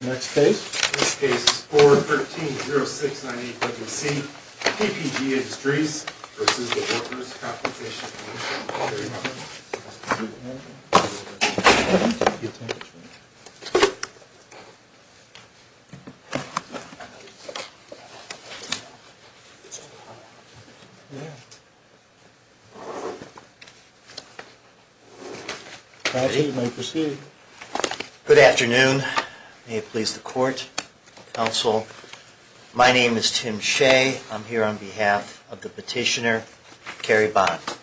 Next case. This case is 4-13-0698-C, PPG Industries v. Workers' Compensation Commission. Good afternoon. May it please the court, counsel. My name is Tim Shea. I'm here on behalf of the petitioner, Carrie Bonnett.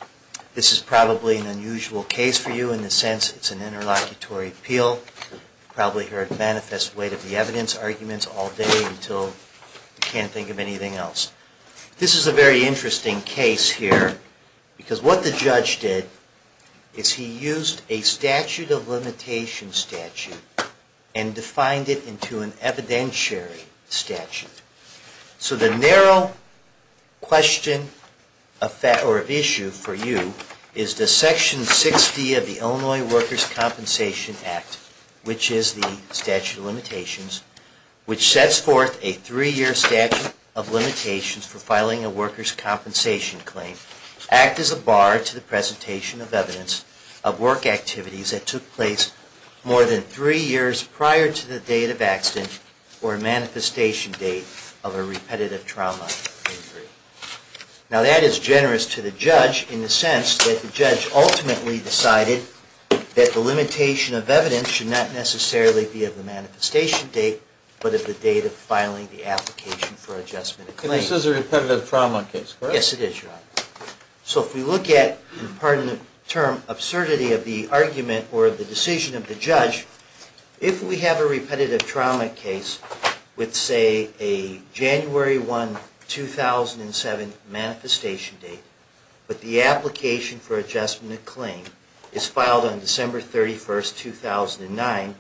This is probably an unusual case for you in the sense it's an interlocutory appeal. You've probably heard manifest weight of the evidence arguments all day until you can't think of anything else. This is a very interesting case here because what the judge did is he used a statute of limitations statute and defined it into an evidentiary statute. So the narrow question or issue for you is that Section 6D of the Illinois Workers' Compensation Act, which is the statute of limitations, which sets forth a three-year statute of limitations for filing a workers' compensation claim, act as a bar to the presentation of evidence of work activities that took place more than three years prior to the date of accident or manifestation date of a repetitive trauma injury. Now that is generous to the judge in the sense that the judge ultimately decided that the limitation of evidence should not necessarily be of the manifestation date but of the date of filing the application for adjustment of claim. This is a repetitive trauma case, correct? Yes, it is, Your Honor. So if we look at, pardon the term, absurdity of the argument or the decision of the judge, if we have a repetitive trauma case with, say, a January 1, 2007 manifestation date, but the application for adjustment of claim is filed on December 31, 2009,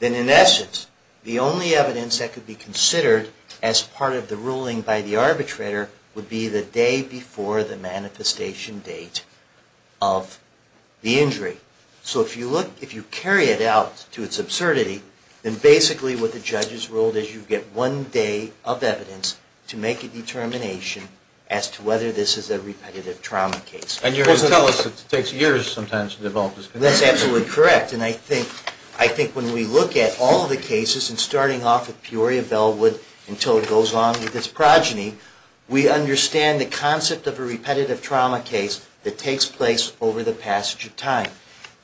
then in essence the only evidence that could be considered as part of the ruling by the arbitrator would be the day before the manifestation date of the injury. So if you look, if you carry it out to its absurdity, then basically what the judge has ruled is you get one day of evidence to make a determination as to whether this is a repetitive trauma case. And you're going to tell us it takes years sometimes to develop this conviction? That's absolutely correct. And I think when we look at all the cases, and starting off with Peoria Bellwood until it goes on with this progeny, we understand the concept of a repetitive trauma case that takes place over the passage of time.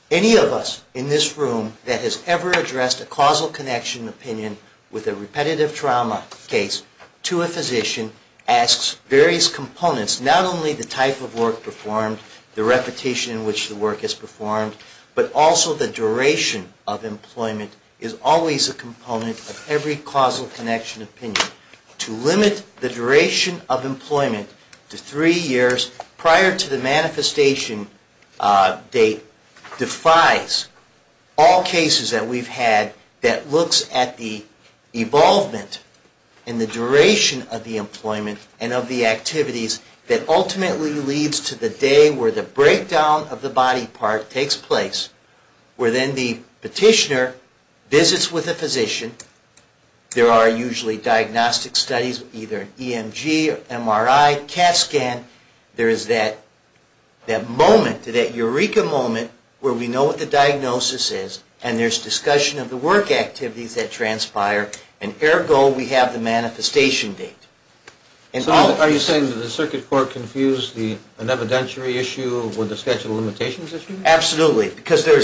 Any of us in this room that has ever addressed a causal connection opinion with a repetitive trauma case to a physician asks various components, not only the type of work performed, the repetition in which the work is performed, but also the duration of employment is always a component of every causal connection opinion. To limit the duration of employment to three years prior to the manifestation date defies all cases that we've had that looks at the evolvement and the duration of the employment and of the activities that ultimately leads to the day where the breakdown of the body part takes place, where then the petitioner visits with a physician. There are usually diagnostic studies, either an EMG, MRI, CAT scan. There is that moment, that eureka moment, where we know what the diagnosis is, and there's discussion of the work activities that transpire, and ergo we have the manifestation date. So are you saying that the circuit court confused the evidentiary issue with the statute of limitations issue? Absolutely, because there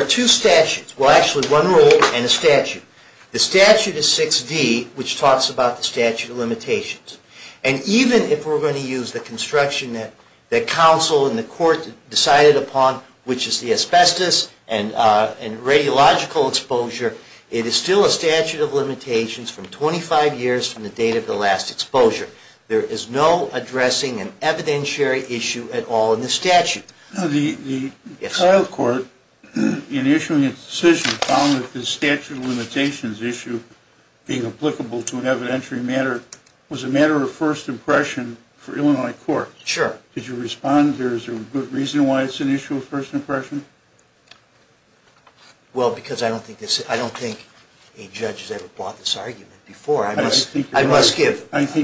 are two statutes, well actually one rule and a statute. The statute is 6D, which talks about the statute of limitations. And even if we're going to use the construction that counsel and the court decided upon, which is the asbestos and radiological exposure, it is still a statute of limitations from 25 years from the date of the last exposure. There is no addressing an evidentiary issue at all in the statute. The trial court, in issuing its decision, found that the statute of limitations issue being applicable to an evidentiary matter was a matter of first impression for Illinois court. Sure. Did you respond? Is there a good reason why it's an issue of first impression? Well, because I don't think a judge has ever brought this argument before. I think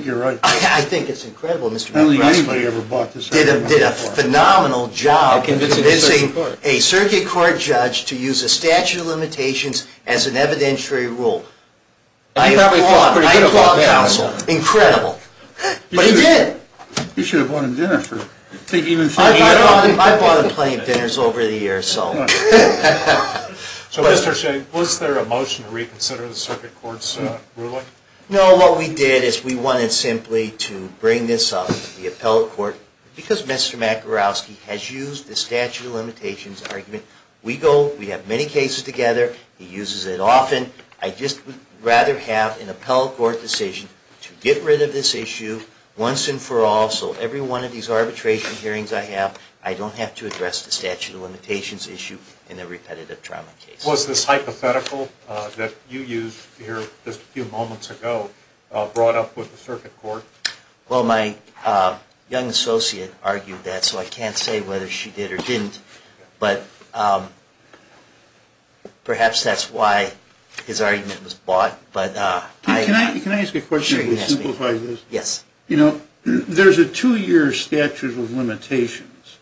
you're right. I think it's incredible. Mr. McGrath did a phenomenal job convincing a circuit court judge to use a statute of limitations as an evidentiary rule. I applaud counsel. Incredible. But he did. You should have bought him dinner. I've bought him plenty of dinners over the years. So was there a motion to reconsider the circuit court's ruling? No, what we did is we wanted simply to bring this up to the appellate court because Mr. McGrath has used the statute of limitations argument. We have many cases together. He uses it often. I just would rather have an appellate court decision to get rid of this issue once and for all so every one of these arbitration hearings I have, I don't have to address the statute of limitations issue in a repetitive trauma case. Was this hypothetical that you used here just a few moments ago brought up with the circuit court? Well, my young associate argued that, so I can't say whether she did or didn't. But perhaps that's why his argument was bought. Can I ask a question to simplify this? Yes. You know, there's a two-year statute of limitations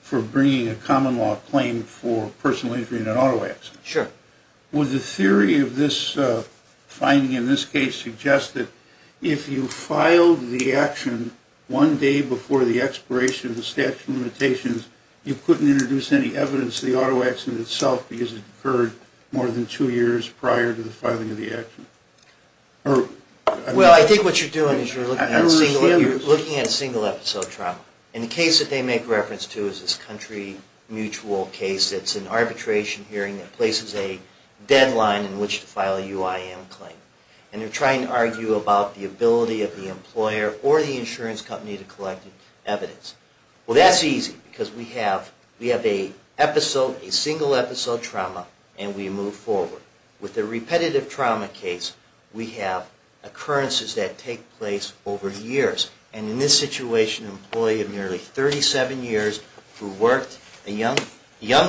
for bringing a common law claim for personal injury in an auto accident. Sure. Would the theory of this finding in this case suggest that if you filed the action one day before the expiration of the statute of limitations, you couldn't introduce any evidence to the auto accident itself because it occurred more than two years prior to the filing of the action? Well, I think what you're doing is you're looking at a single episode trauma. And the case that they make reference to is this country mutual case that's an arbitration hearing that places a deadline in which to file a UIM claim. And they're trying to argue about the ability of the employer or the insurance company to collect evidence. Well, that's easy because we have a single episode trauma and we move forward. With the repetitive trauma case, we have occurrences that take place over years. And in this situation, an employee of nearly 37 years who worked a young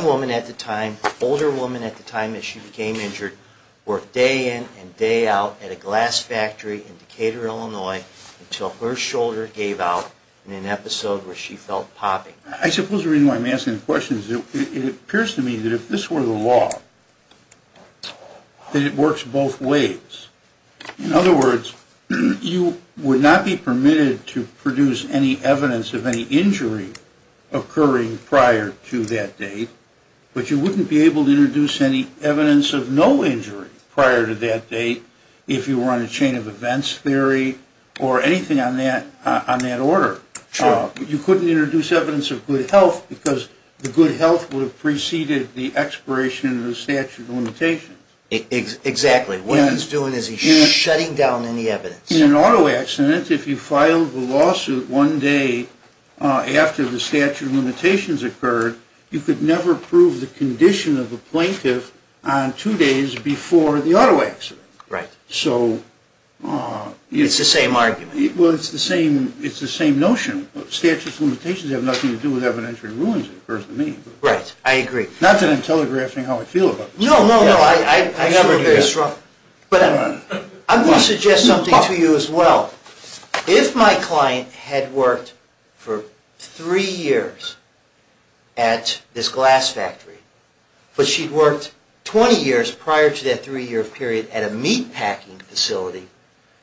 woman at the time, older woman at the time that she became injured, worked day in and day out at a glass factory in Decatur, Illinois, until her shoulder gave out in an episode where she felt popping. I suppose the reason why I'm asking the question is it appears to me that if this were the law, that it works both ways. In other words, you would not be permitted to produce any evidence of any injury occurring prior to that date, but you wouldn't be able to introduce any evidence of no injury prior to that date if you were on a chain of events theory or anything on that order. Sure. You couldn't introduce evidence of good health because the good health would have preceded the expiration of the statute of limitations. Exactly. What he's doing is he's shutting down any evidence. In an auto accident, if you filed a lawsuit one day after the statute of limitations occurred, you could never prove the condition of a plaintiff on two days before the auto accident. Right. So... It's the same argument. Well, it's the same notion. Statutes of limitations have nothing to do with evidentiary ruins, it occurs to me. Right. I agree. Not that I'm telegraphing how I feel about this. No, no, no. I'm going to suggest something to you as well. If my client had worked for three years at this glass factory, but she'd worked 20 years prior to that three-year period at a meatpacking facility,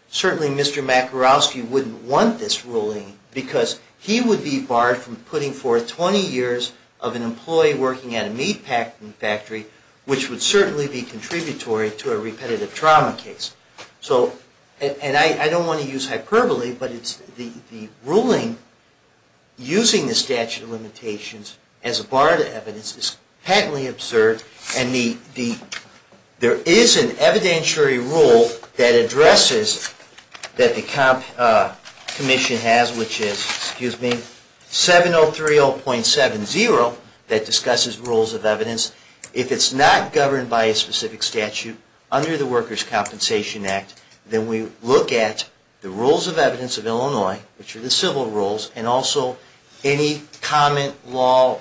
certainly Mr. Makarowski wouldn't want this ruling because he would be barred from putting forth 20 years of an employee working at a meatpacking factory, which would certainly be contributory to a repetitive trauma case. And I don't want to use hyperbole, but the ruling using the statute of limitations as a bar to evidence is patently absurd. And there is an evidentiary rule that addresses that the Commission has, which is 7030.70 that discusses rules of evidence. If it's not governed by a specific statute under the Workers' Compensation Act, then we look at the rules of evidence of Illinois, which are the civil rules, and also any common law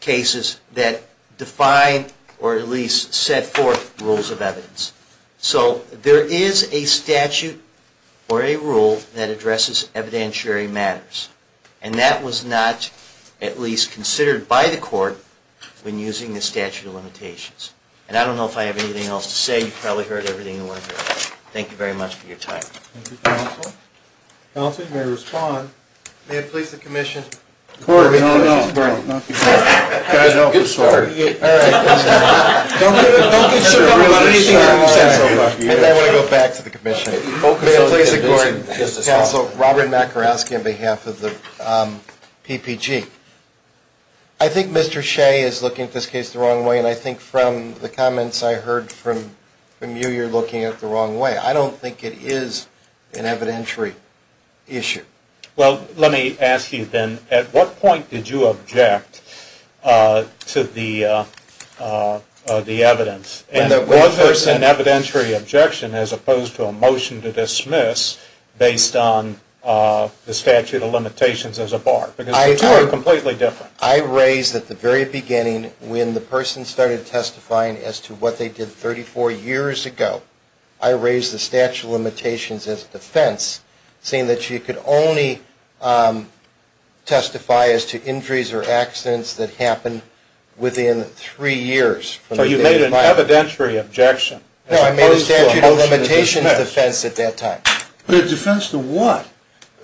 cases that define or at least set forth rules of evidence. So there is a statute or a rule that addresses evidentiary matters, and that was not at least considered by the Court when using the statute of limitations. And I don't know if I have anything else to say. You've probably heard everything you want to hear. Thank you very much for your time. Thank you, counsel. Counsel, you may respond. May it please the Commission. No, no, no. I'm sorry. All right. Don't get so bummed about anything you haven't said so far. And then I want to go back to the Commission. May it please the Court. Counsel, Robert Macaroski on behalf of the PPG. I think Mr. Shea is looking at this case the wrong way, and I think from the comments I heard from you, you're looking at it the wrong way. I don't think it is an evidentiary issue. Well, let me ask you then, at what point did you object to the evidence? And was this an evidentiary objection as opposed to a motion to dismiss based on the statute of limitations as a bar? Because the two are completely different. I raised at the very beginning, when the person started testifying as to what they did 34 years ago, I raised the statute of limitations as a defense, saying that you could only testify as to injuries or accidents that happened within three years. So you made an evidentiary objection as opposed to a motion to dismiss. No, I made a statute of limitations defense at that time. But a defense to what?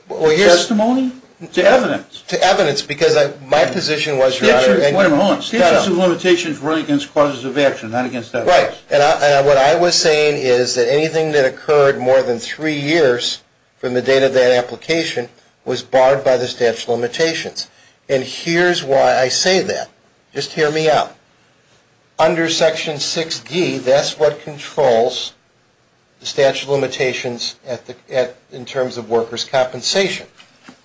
Testimony? To evidence. To evidence, because my position was, Your Honor. Wait a minute. Hold on. Statute of limitations run against causes of action, not against evidence. Right. And what I was saying is that anything that occurred more than three years from the date of that application was barred by the statute of limitations. And here's why I say that. Just hear me out. Under Section 6D, that's what controls the statute of limitations in terms of workers' compensation.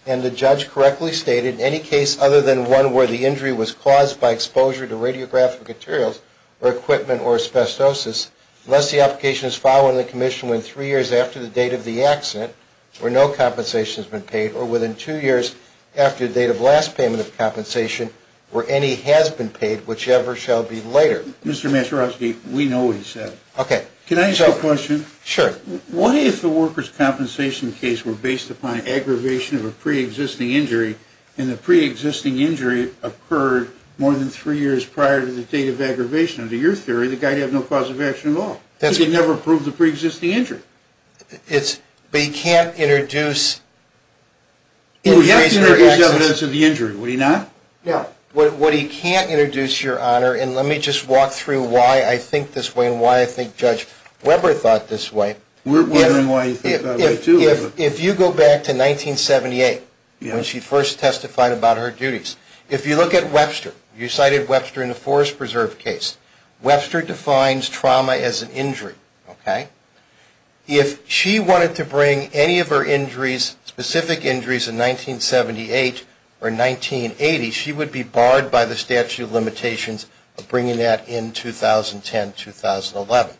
And the judge correctly stated, any case other than one where the injury was caused by exposure to radiographic materials or equipment or asbestosis, unless the application is following the commission within three years after the date of the accident, where no compensation has been paid, or within two years after the date of last payment of compensation, where any has been paid, whichever shall be later. Mr. Masierowski, we know what you said. Okay. Can I ask a question? Sure. What if the workers' compensation case were based upon aggravation of a preexisting injury, and the preexisting injury occurred more than three years prior to the date of aggravation? Under your theory, the guy would have no cause of action at all. That's right. Because he never proved the preexisting injury. But he can't introduce injuries or accidents. Well, he has to introduce evidence of the injury, would he not? No. What he can't introduce, Your Honor, and let me just walk through why I think this way We're wondering why you think that way, too. If you go back to 1978, when she first testified about her duties, if you look at Webster, you cited Webster in the Forest Preserve case, Webster defines trauma as an injury, okay? If she wanted to bring any of her injuries, specific injuries, in 1978 or 1980, she would be barred by the statute of limitations of bringing that in 2010, 2011.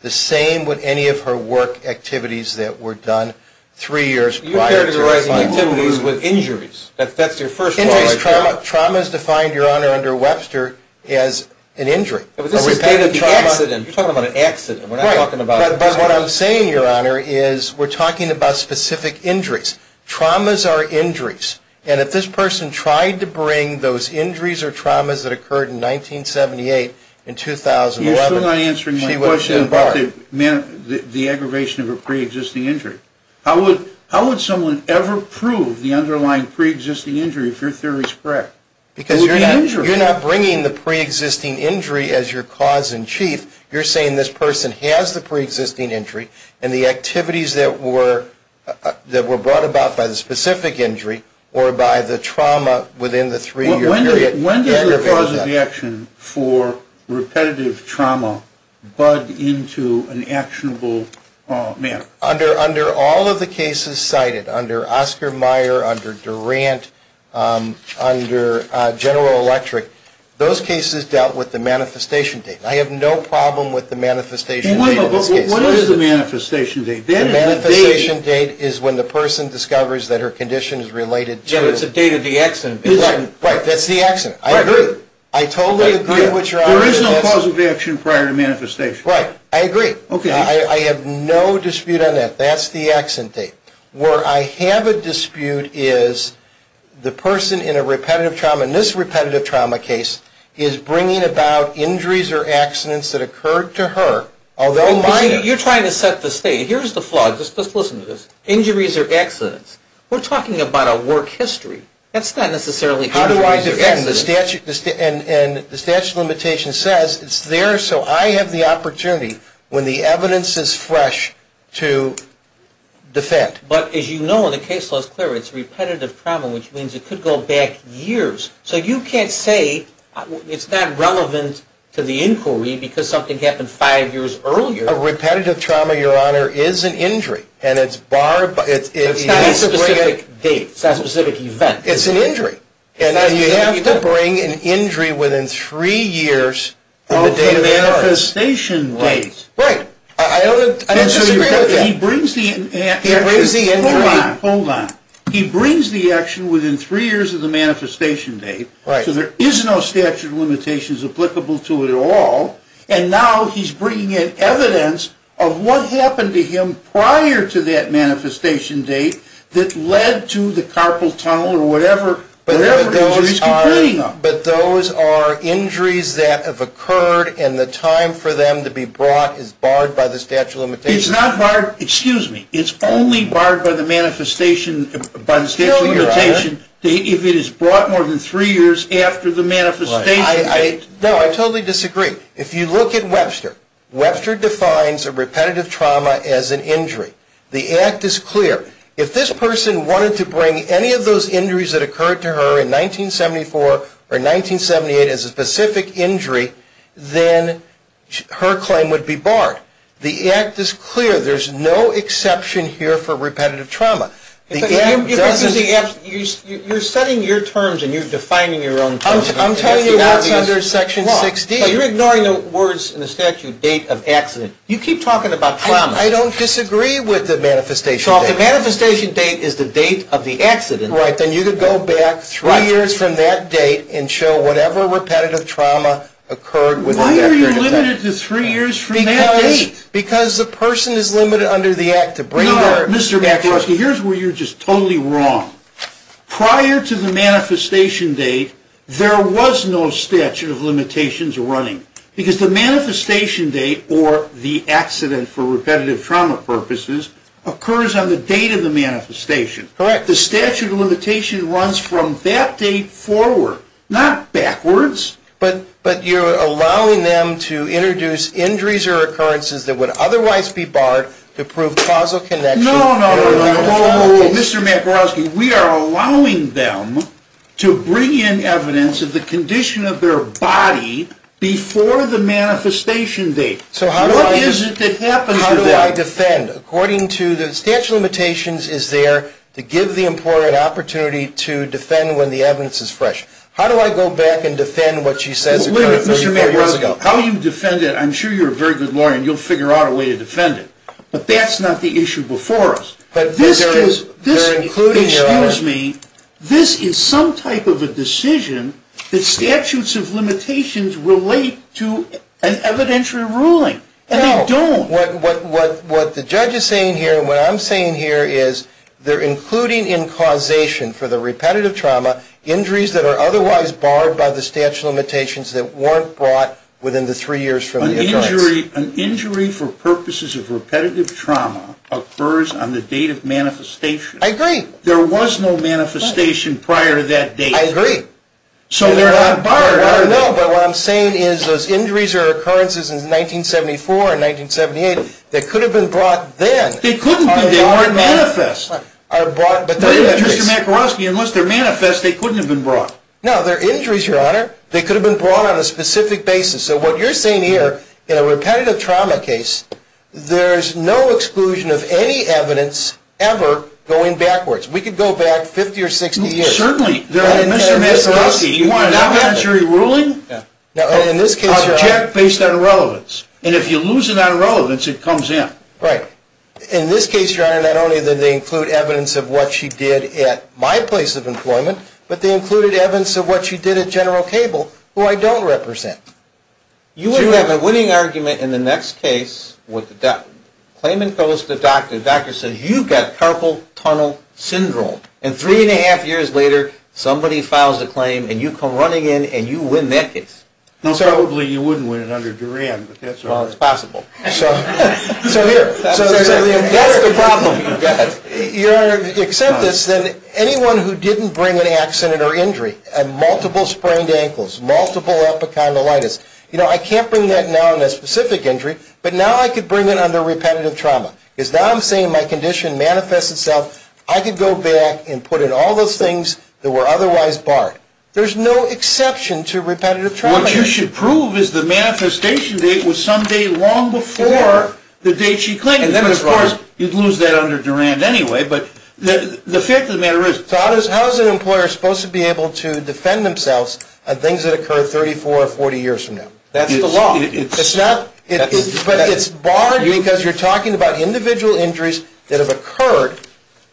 The same with any of her work activities that were done three years prior to that. You're characterizing activities with injuries. That's your first point. Injuries, trauma is defined, Your Honor, under Webster as an injury. But this is the date of the accident. You're talking about an accident. We're not talking about a trauma. But what I'm saying, Your Honor, is we're talking about specific injuries. Traumas are injuries. And if this person tried to bring those injuries or traumas that occurred in 1978 and 2011, you're still not answering my question about the aggravation of a preexisting injury. How would someone ever prove the underlying preexisting injury if your theory is correct? Because you're not bringing the preexisting injury as your cause in chief. You're saying this person has the preexisting injury, and the activities that were brought about by the specific injury or by the trauma within the three-year period aggravated that. How does the time for repetitive trauma bud into an actionable manner? Under all of the cases cited, under Oscar Meyer, under Durant, under General Electric, those cases dealt with the manifestation date. I have no problem with the manifestation date in this case. Wait a minute. What is the manifestation date? The manifestation date is when the person discovers that her condition is related to. It's the date of the accident. Right. That's the accident. I agree. I totally agree with your argument. There is no cause of action prior to manifestation. Right. I agree. Okay. I have no dispute on that. That's the accident date. Where I have a dispute is the person in a repetitive trauma, in this repetitive trauma case, is bringing about injuries or accidents that occurred to her. You're trying to set the state. Here's the flaw. Just listen to this. Injuries or accidents. We're talking about a work history. That's not necessarily injuries or accidents. How do I defend? And the statute of limitations says it's there so I have the opportunity, when the evidence is fresh, to defend. But, as you know, in the case law is clear. It's repetitive trauma, which means it could go back years. So you can't say it's not relevant to the inquiry because something happened five years earlier. A repetitive trauma, Your Honor, is an injury. And it's barred. It's not a specific date. It's an injury. And you have to bring an injury within three years of the date of the arrest. Of the manifestation date. Right. Right. I disagree with that. He brings the action. He brings the injury. Hold on. Hold on. He brings the action within three years of the manifestation date. Right. So there is no statute of limitations applicable to it at all. And now he's bringing in evidence of what happened to him prior to that manifestation date that led to the carpal tunnel or whatever. But those are injuries that have occurred and the time for them to be brought is barred by the statute of limitations. It's not barred. Excuse me. It's only barred by the manifestation, by the statute of limitations, if it is brought more than three years after the manifestation. No, I totally disagree. If you look at Webster, Webster defines a repetitive trauma as an injury. The act is clear. If this person wanted to bring any of those injuries that occurred to her in 1974 or 1978 as a specific injury, then her claim would be barred. The act is clear. There's no exception here for repetitive trauma. You're setting your terms and you're defining your own terms. I'm telling you that's under Section 16. You're ignoring the words in the statute, date of accident. You keep talking about trauma. I don't disagree with the manifestation date. The manifestation date is the date of the accident. Right. Then you could go back three years from that date and show whatever repetitive trauma occurred within that period of time. Why are you limited to three years from that date? Because the person is limited under the act to bring her. No, Mr. McCloskey, here's where you're just totally wrong. Prior to the manifestation date, there was no statute of limitations running. Because the manifestation date, or the accident for repetitive trauma purposes, occurs on the date of the manifestation. Correct. The statute of limitation runs from that date forward, not backwards. But you're allowing them to introduce injuries or occurrences that would otherwise be barred to prove causal connection. No, no, no. Mr. McCloskey, we are allowing them to bring in evidence of the condition of their body before the manifestation date. What is it that happens to them? How do I defend? According to the statute of limitations is there to give the employer an opportunity to defend when the evidence is fresh. How do I go back and defend what she says occurred 34 years ago? How you defend it, I'm sure you're a very good lawyer and you'll figure out a way to defend it. But that's not the issue before us. Excuse me. This is some type of a decision that statutes of limitations relate to an evidentiary ruling. And they don't. What the judge is saying here and what I'm saying here is they're including in causation for the repetitive trauma injuries that are otherwise barred by the statute of limitations that weren't brought within the three years from the event. An injury for purposes of repetitive trauma occurs on the date of manifestation. I agree. There was no manifestation prior to that date. I agree. So they're not barred. I don't know, but what I'm saying is those injuries or occurrences in 1974 and 1978 that could have been brought then. They couldn't be. They weren't manifest. Mr. McCloskey, unless they're manifest, they couldn't have been brought. No, they're injuries, Your Honor. They could have been brought on a specific basis. So what you're saying here in a repetitive trauma case, there's no exclusion of any evidence ever going backwards. We could go back 50 or 60 years. Certainly. Mr. McCloskey, you want an evidentiary ruling? Object based on relevance. And if you lose it on relevance, it comes in. Right. In this case, Your Honor, not only did they include evidence of what she did at my place of employment, but they included evidence of what she did at General Cable, who I don't represent. You would have a winning argument in the next case with the claimant goes to the doctor. The doctor says, you've got carpal tunnel syndrome. And three and a half years later, somebody files a claim, and you come running in, and you win that case. Well, probably you wouldn't win it under Duran, but that's all right. Well, it's possible. So here, that's the problem you've got. Your Honor, except this, anyone who didn't bring an accident or injury, multiple sprained ankles, multiple epicondylitis, you know, I can't bring that now in a specific injury, but now I could bring it under repetitive trauma. Because now I'm saying my condition manifests itself. I could go back and put in all those things that were otherwise barred. There's no exception to repetitive trauma. What you should prove is the manifestation date was some day long before the date she claimed. And then, of course, you'd lose that under Duran anyway. But the fact of the matter is. So how is an employer supposed to be able to defend themselves on things that occur 34 or 40 years from now? That's the law. But it's barred because you're talking about individual injuries that have occurred,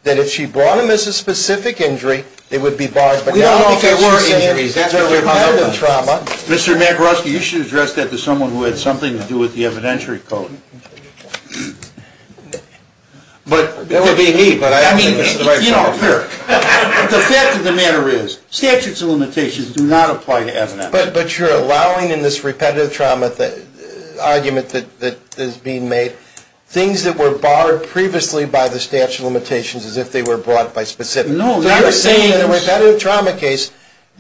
that if she brought them as a specific injury, it would be barred. We don't know if they were injuries. That's repetitive trauma. Mr. MacRoskey, you should address that to someone who had something to do with the evidentiary code. That would be me, but I don't think it's the right person. The fact of the matter is, statutes of limitations do not apply to evidence. But you're allowing in this repetitive trauma argument that is being made, things that were barred previously by the statute of limitations as if they were brought by specifics. No. So you're saying in a repetitive trauma case,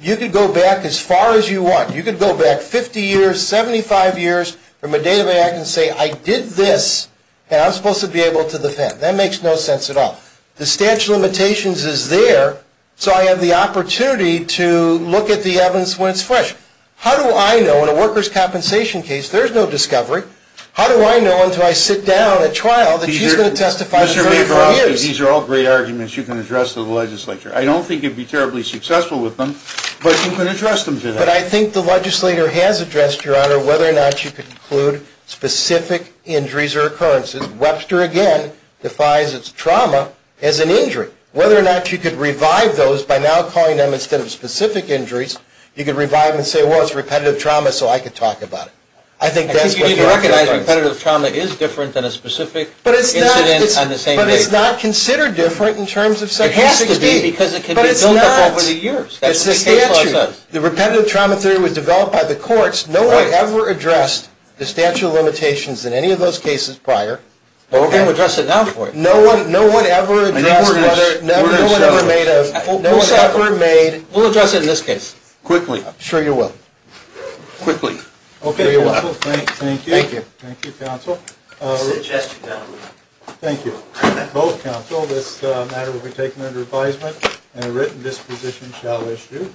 you could go back as far as you want. You could go back 50 years, 75 years from a date of enactment and say, I did this, and I'm supposed to be able to defend. That makes no sense at all. The statute of limitations is there, so I have the opportunity to look at the evidence when it's fresh. How do I know in a workers' compensation case there's no discovery? How do I know until I sit down at trial that she's going to testify for 34 years? These are all great arguments you can address to the legislature. I don't think you'd be terribly successful with them, but you can address them to them. But I think the legislator has addressed, Your Honor, whether or not you could include specific injuries or occurrences. Webster, again, defies its trauma as an injury. Whether or not you could revive those by now calling them instead of specific injuries, you could revive them and say, well, it's repetitive trauma, so I could talk about it. I think you need to recognize repetitive trauma is different than a specific incident on the same day. But it's not considered different in terms of Section 16. It has to be, because it can be built up over the years. But it's not. It's the statute. The repetitive trauma theory was developed by the courts. No one ever addressed the statute of limitations in any of those cases prior. Well, we're going to address it now for you. No one ever addressed it. We'll address it in this case. Quickly. I'm sure you will. Quickly. Okay, counsel, thank you. Thank you. Thank you, counsel. Sit your chest down. Thank you. Both counsel, this matter will be taken under advisement, and a written disposition shall issue.